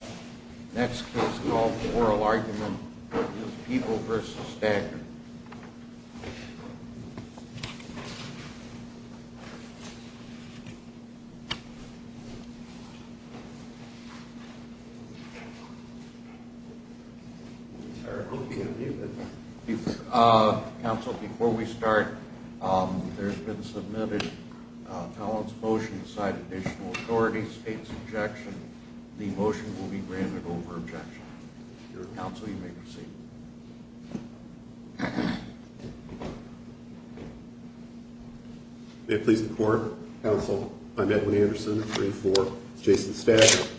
The next case is called Oral Argument. It is People v. Stagner. This case is called Oral Argument. It is People v. Stagner. May it please the court, counsel, I'm Edwin Anderson, jury for Jason Stagner.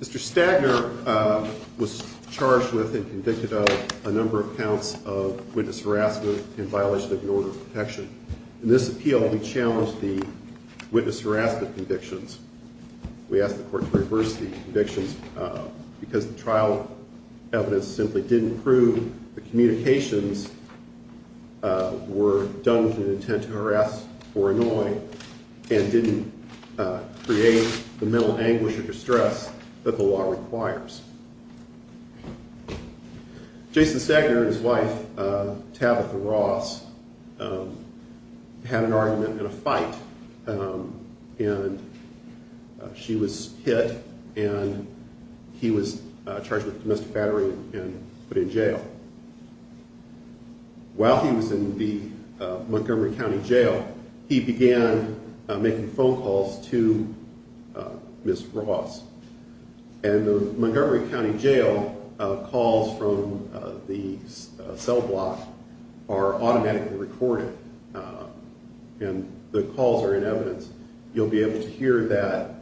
Mr. Stagner was charged with and convicted of a number of counts of witness harassment and violation of an order of protection. In this appeal, we challenged the witness harassment convictions. We asked the court to reverse the convictions because the trial evidence simply didn't prove the communications were done with an intent to harass or annoy and didn't create the mental anguish or distress that the law requires. Jason Stagner and his wife, Tabitha Ross, had an argument and a fight and she was hit and he was charged with domestic battery and put in jail. While he was in the Montgomery County Jail, he began making phone calls to Ms. Ross. In the Montgomery County Jail, calls from the cell block are automatically recorded and the calls are in evidence. You'll be able to hear that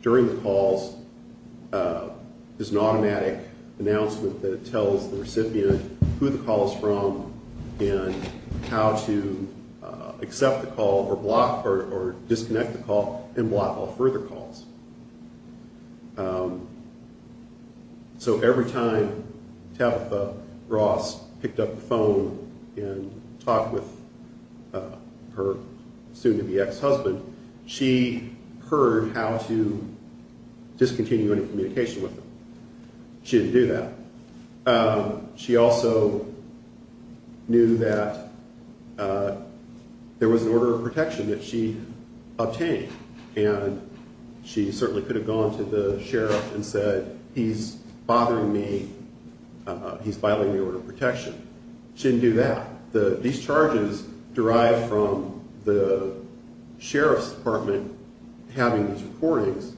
during the calls, there's an automatic announcement that tells the recipient who the call is from and how to accept the call or block or disconnect the call and block all further calls. So every time Tabitha Ross picked up the phone and talked with her soon-to-be ex-husband, she heard how to discontinue any communication with him. She didn't do that. She also knew that there was an order of protection that she obtained and she certainly could have gone to the sheriff and said, he's bothering me, he's violating the order of protection. She didn't do that. These charges derived from the sheriff's department having these recordings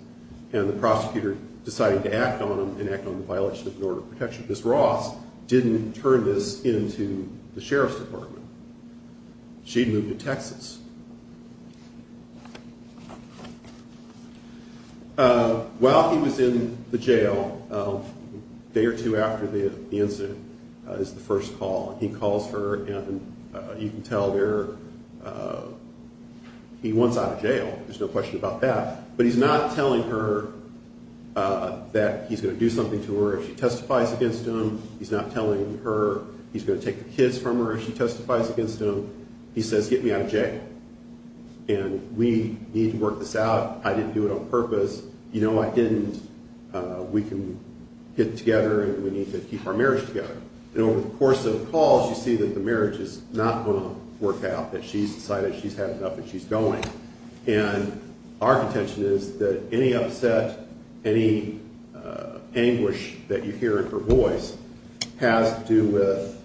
and the prosecutor deciding to act on them and act on the violation of an order of protection. Ms. Ross didn't turn this into the sheriff's department. She moved to Texas. While he was in the jail, a day or two after the incident is the first call. He calls her and you can tell there he wants out of jail. There's no question about that. But he's not telling her that he's going to do something to her if she testifies against him. He's not telling her he's going to take the kids from her if she testifies against him. He says, get me out of jail. And we need to work this out. I didn't do it on purpose. You know I didn't. We can get together and we need to keep our marriage together. And over the course of the calls, you see that the marriage is not going to work out, that she's decided she's had enough and she's going. And our contention is that any upset, any anguish that you hear in her voice has to do with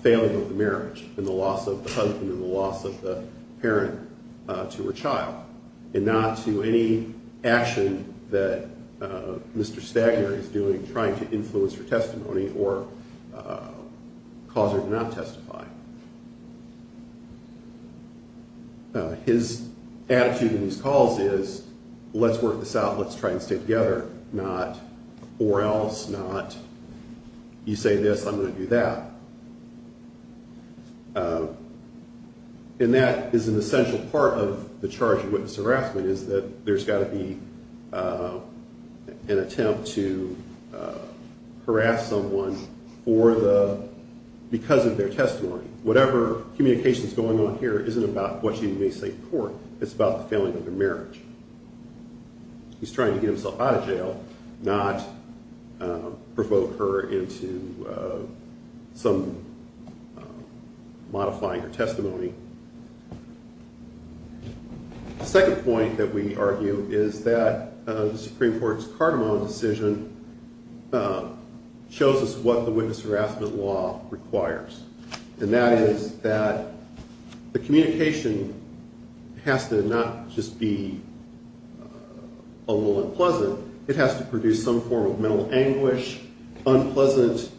failing of the marriage and the loss of the husband and the loss of the parent to her child. And not to any action that Mr. Stagner is doing trying to influence her testimony or cause her to not testify. His attitude in these calls is let's work this out, let's try and stay together. Not or else, not you say this, I'm going to do that. And that is an essential part of the charge of witness harassment is that there's got to be an attempt to harass someone because of their testimony. Whatever communication is going on here isn't about what you may say to court. It's about the failing of the marriage. He's trying to get himself out of jail, not provoke her into some modifying her testimony. The second point that we argue is that the Supreme Court's Cardamom decision shows us what the witness harassment law requires. And that is that the communication has to not just be a little unpleasant, it has to produce some form of mental anguish, unpleasant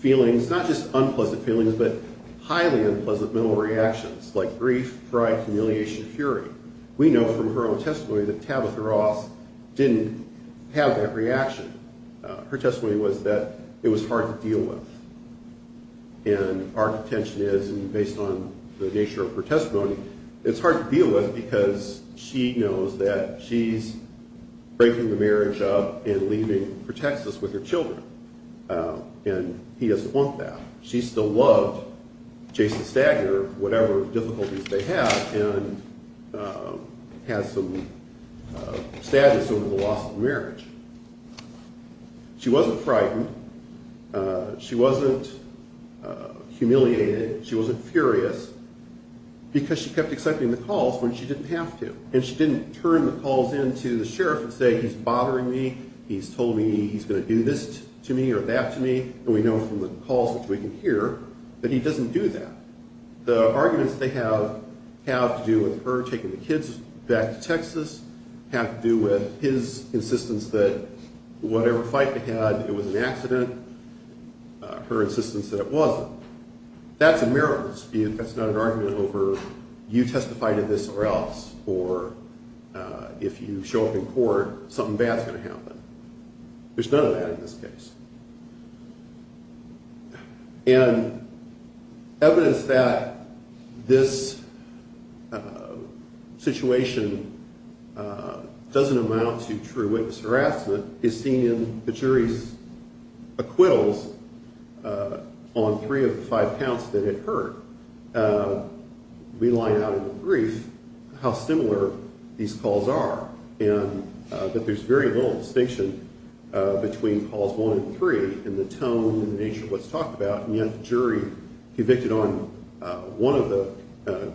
feelings. Not just unpleasant feelings, but highly unpleasant mental reactions like grief, pride, humiliation, fury. We know from her own testimony that Tabitha Ross didn't have that reaction. Her testimony was that it was hard to deal with. And our contention is, based on the nature of her testimony, it's hard to deal with because she knows that she's breaking the marriage up and leaving for Texas with her children. And he doesn't want that. She still loved Jason Stagner, whatever difficulties they had, and had some sadness over the loss of the marriage. She wasn't frightened. She wasn't humiliated. She wasn't furious. Because she kept accepting the calls when she didn't have to. And she didn't turn the calls in to the sheriff and say, he's bothering me, he's told me he's going to do this to me or that to me. And we know from the calls which we can hear that he doesn't do that. The arguments they have have to do with her taking the kids back to Texas have to do with his insistence that whatever fight they had, it was an accident. Her insistence that it wasn't. That's a miracle dispute. That's not an argument over you testify to this or else, or if you show up in court, something bad's going to happen. There's none of that in this case. And evidence that this situation doesn't amount to true witness harassment is seen in the jury's acquittals on three of the five counts that it heard. We line out in the brief how similar these calls are. And that there's very little distinction between calls one and three in the tone and the nature of what's talked about. And yet the jury convicted on one of the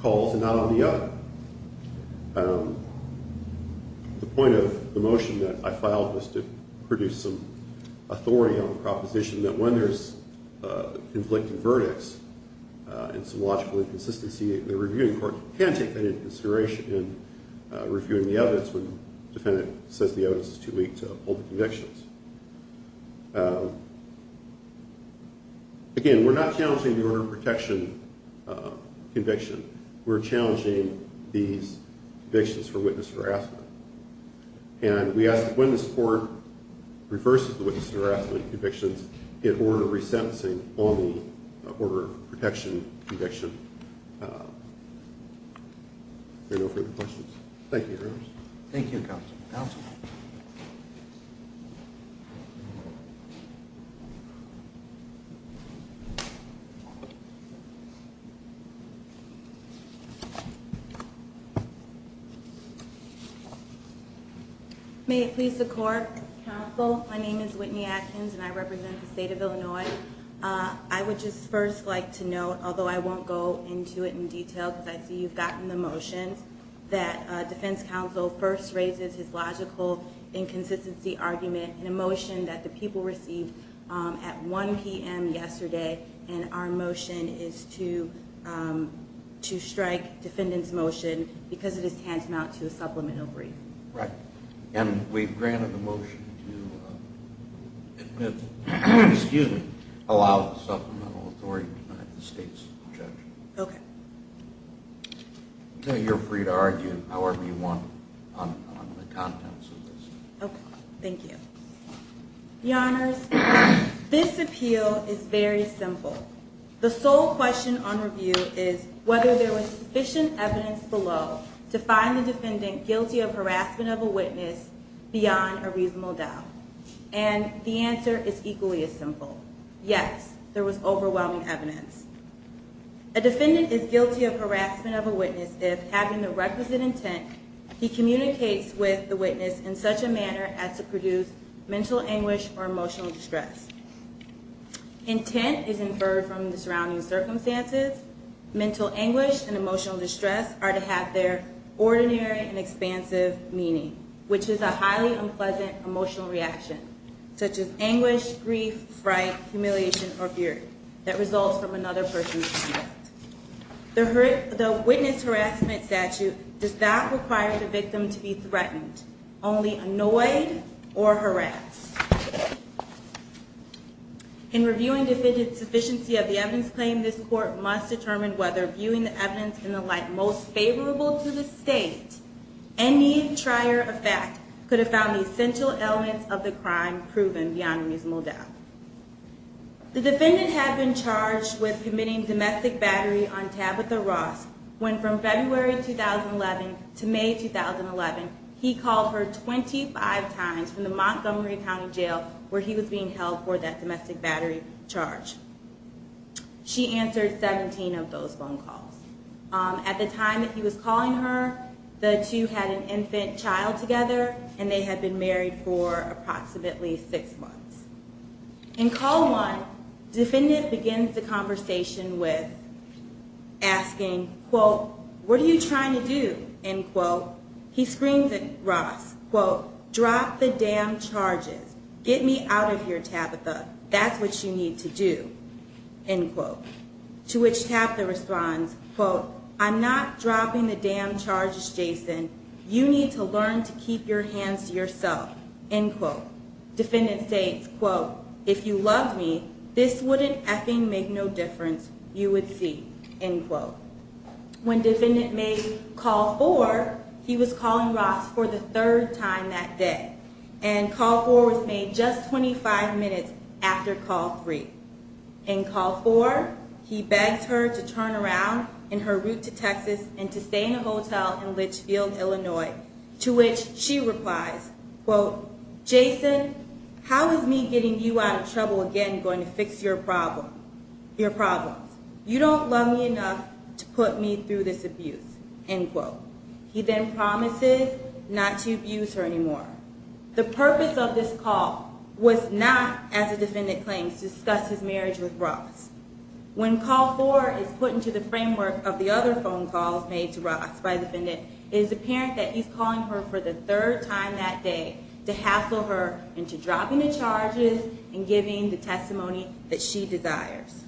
calls and not on the other. The point of the motion that I filed was to produce some authority on the proposition that when there's conflicting verdicts and some logical inconsistency, the reviewing court can take that into consideration in reviewing the evidence when the defendant says the evidence is too weak to uphold the convictions. Again, we're not challenging the order of protection conviction. We're challenging these convictions for witness harassment. And we ask that when this court reverses the witness harassment convictions, it order resentencing on the order of protection conviction. There are no further questions. Thank you, Your Honors. Thank you, Counsel. Thank you. May it please the court. Counsel, my name is Whitney Atkins and I represent the state of Illinois. I would just first like to note, although I won't go into it in detail because I see you've gotten the motion, that defense counsel first raises his logical inconsistency argument in a motion that the people received at 1 p.m. yesterday. And our motion is to strike defendant's motion because it is tantamount to a supplemental brief. Right. And we've granted the motion to admit, excuse me, allow supplemental authority to deny the state's objection. Okay. You're free to argue however you want on the contents of this. Okay. Thank you. Your Honors, this appeal is very simple. The sole question on review is whether there was sufficient evidence below to find the defendant guilty of harassment of a witness beyond a reasonable doubt. And the answer is equally as simple. Yes, there was overwhelming evidence. A defendant is guilty of harassment of a witness if, having the requisite intent, he communicates with the witness in such a manner as to produce mental anguish or emotional distress. Intent is inferred from the surrounding circumstances. Mental anguish and emotional distress are to have their ordinary and expansive meaning, which is a highly unpleasant emotional reaction such as anguish, grief, fright, humiliation, or fear that results from another person's conduct. The witness harassment statute does not require the victim to be threatened, only annoyed or harassed. In reviewing defendant's sufficiency of the evidence claim, this court must determine whether viewing the evidence in the light most favorable to the state, any trier effect could have found the essential elements of the crime proven beyond a reasonable doubt. The defendant had been charged with committing domestic battery on Tabitha Ross when from February 2011 to May 2011, he called her 25 times from the Montgomery County Jail where he was being held for that domestic battery charge. She answered 17 of those phone calls. At the time that he was calling her, the two had an infant child together, and they had been married for approximately six months. In call one, defendant begins the conversation with asking, quote, what are you trying to do, end quote. He screams at Ross, quote, drop the damn charges. Get me out of here, Tabitha. That's what you need to do, end quote. To which Tabitha responds, quote, I'm not dropping the damn charges, Jason. You need to learn to keep your hands to yourself, end quote. Defendant states, quote, if you loved me, this wouldn't effing make no difference. You would see, end quote. When defendant made call four, he was calling Ross for the third time that day, and call four was made just 25 minutes after call three. In call four, he begs her to turn around in her route to Texas and to stay in a hotel in Litchfield, Illinois, to which she replies, quote, Jason, how is me getting you out of trouble again going to fix your problems? You don't love me enough to put me through this abuse, end quote. He then promises not to abuse her anymore. The purpose of this call was not, as the defendant claims, to discuss his marriage with Ross. When call four is put into the framework of the other phone calls made to Ross by the defendant, it is apparent that he's calling her for the third time that day to hassle her into dropping the charges and giving the testimony that she desires.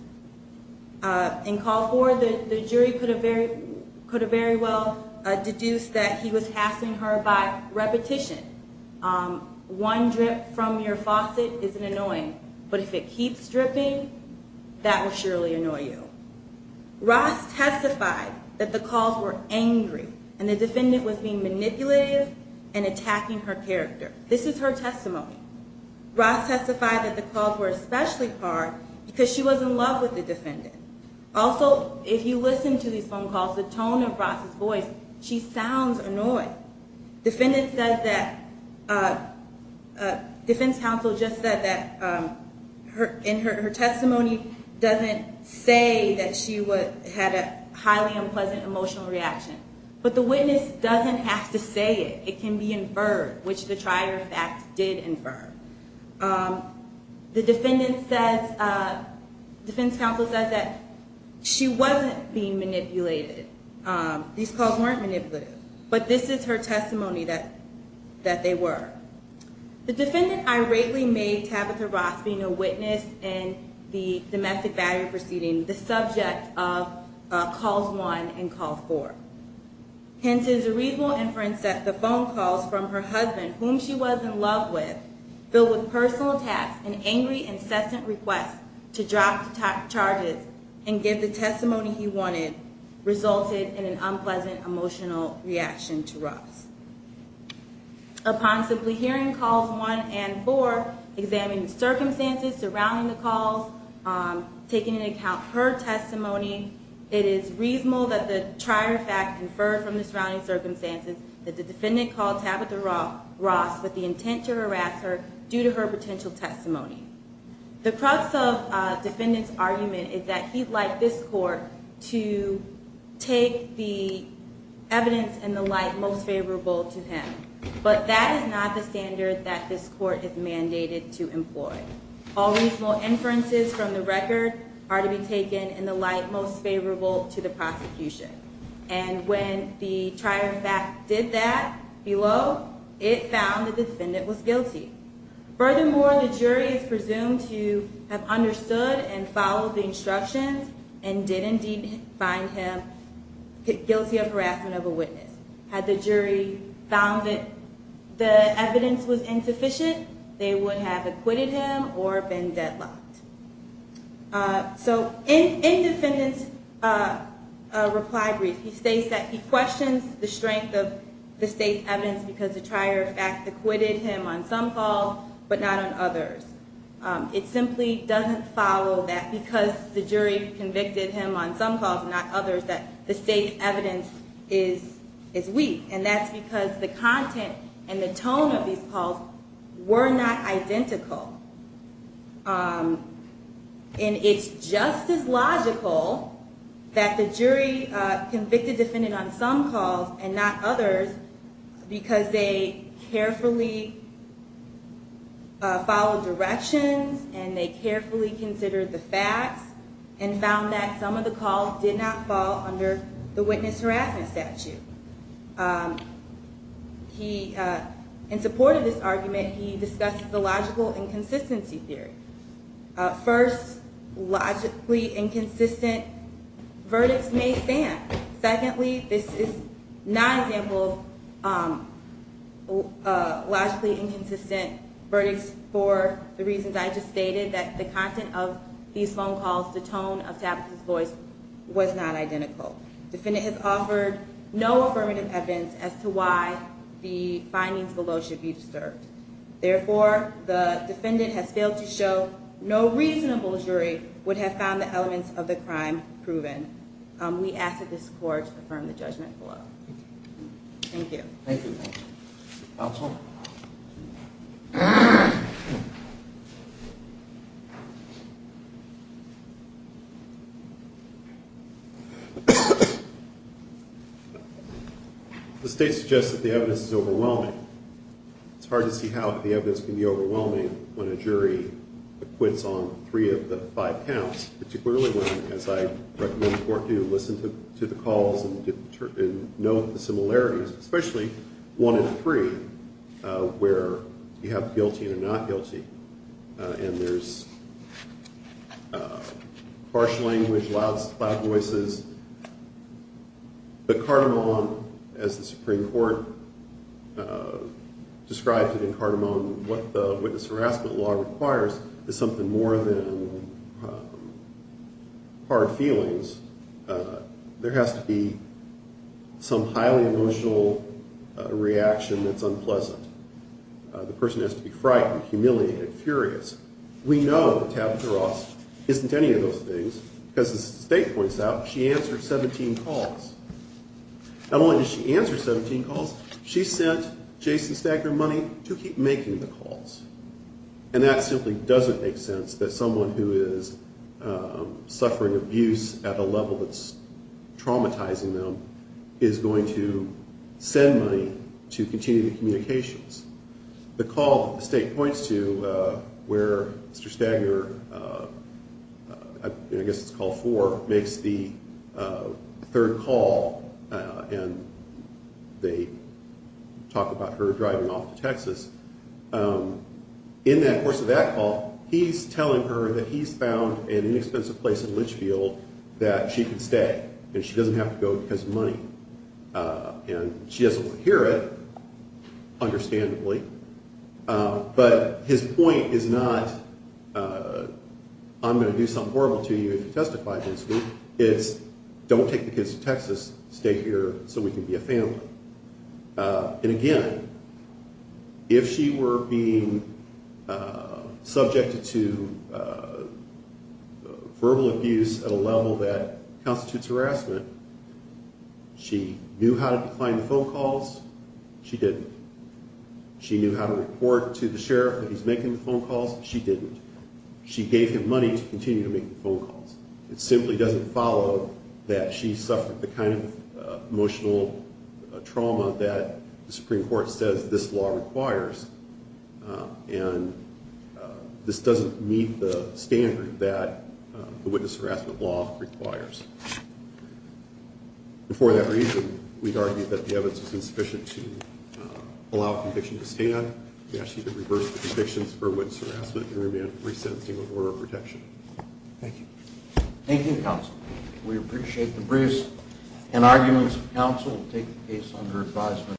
In call four, the jury could have very well deduced that he was hassling her by repetition. One drip from your faucet isn't annoying, but if it keeps dripping, that will surely annoy you. Ross testified that the calls were angry, and the defendant was being manipulative and attacking her character. This is her testimony. Ross testified that the calls were especially hard because she was in love with the defendant. Also, if you listen to these phone calls, the tone of Ross's voice, she sounds annoyed. Defendant says that, defense counsel just said that in her testimony, doesn't say that she had a highly unpleasant emotional reaction. But the witness doesn't have to say it. It can be inferred, which the trier fact did infer. The defendant says, defense counsel says that she wasn't being manipulated. These calls weren't manipulative, but this is her testimony that they were. The defendant irately made Tabitha Ross being a witness in the domestic value proceeding the subject of calls one and call four. Hence is a reasonable inference that the phone calls from her husband, whom she was in love with, filled with personal attacks and angry incessant requests to drop the charges and give the testimony he wanted, resulted in an unpleasant emotional reaction to Ross. Upon simply hearing calls one and four, examining the circumstances surrounding the calls, taking into account her testimony, it is reasonable that the trier fact inferred from the surrounding circumstances that the defendant called Tabitha Ross with the intent to harass her due to her potential testimony. The crux of defendant's argument is that he'd like this court to take the evidence and the light most favorable to him. But that is not the standard that this court is mandated to employ. All reasonable inferences from the record are to be taken in the light most favorable to the prosecution. And when the trier fact did that below, it found the defendant was guilty. Furthermore, the jury is presumed to have understood and followed the instructions and did indeed find him guilty of harassment of a witness. Had the jury found that the evidence was insufficient, they would have acquitted him or been deadlocked. So in defendant's reply brief, he states that he questions the strength of the state's evidence because the trier fact acquitted him on some calls but not on others. It simply doesn't follow that because the jury convicted him on some calls and not others that the state's evidence is weak. And that's because the content and the tone of these calls were not identical. And it's just as logical that the jury convicted defendant on some calls and not others because they carefully followed directions and they carefully considered the facts and found that some of the calls did not fall under the witness harassment statute. In support of this argument, he discussed the logical inconsistency theory. First, logically inconsistent verdicts may stand. Secondly, this is not an example of logically inconsistent verdicts for the reasons I just stated, that the content of these phone calls, the tone of Tappett's voice was not identical. Defendant has offered no affirmative evidence as to why the findings below should be disturbed. Therefore, the defendant has failed to show no reasonable jury would have found the elements of the crime proven. We ask that this court affirm the judgment below. Thank you. Counsel? The state suggests that the evidence is overwhelming. It's hard to see how the evidence can be overwhelming when a jury acquits on three of the five counts, particularly when, as I recommend the court do, listen to the calls and note the similarities, especially one in three where you have guilty or not guilty and there's harsh language, loud voices. But Cardamon, as the Supreme Court described it in Cardamon, what the witness harassment law requires is something more than hard feelings. There has to be some highly emotional reaction that's unpleasant. The person has to be frightened, humiliated, furious. We know that Tabitha Ross isn't any of those things because, as the state points out, she answered 17 calls. Not only did she answer 17 calls, she sent Jason Stagner money to keep making the calls. And that simply doesn't make sense that someone who is suffering abuse at a level that's traumatizing them is going to send money to continue the communications. The call that the state points to where Mr. Stagner, I guess it's call four, makes the third call and they talk about her driving off to Texas. In that course of that call, he's telling her that he's found an inexpensive place in Litchfield that she can stay and she doesn't have to go because of money. And she doesn't want to hear it, understandably. But his point is not, I'm going to do something horrible to you if you testify against me. It's don't take the kids to Texas, stay here so we can be a family. And again, if she were being subjected to verbal abuse at a level that constitutes harassment, she knew how to decline the phone calls. She didn't. She knew how to report to the sheriff that he's making the phone calls. She didn't. She gave him money to continue to make the phone calls. It simply doesn't follow that she suffered the kind of emotional trauma that the Supreme Court says this law requires. And this doesn't meet the standard that the witness harassment law requires. And for that reason, we'd argue that the evidence is insufficient to allow a conviction to stand. We ask you to reverse the convictions for witness harassment and remand for resentencing with order of protection. Thank you. Thank you, counsel. We appreciate the briefs and arguments. Counsel will take the case under advisement.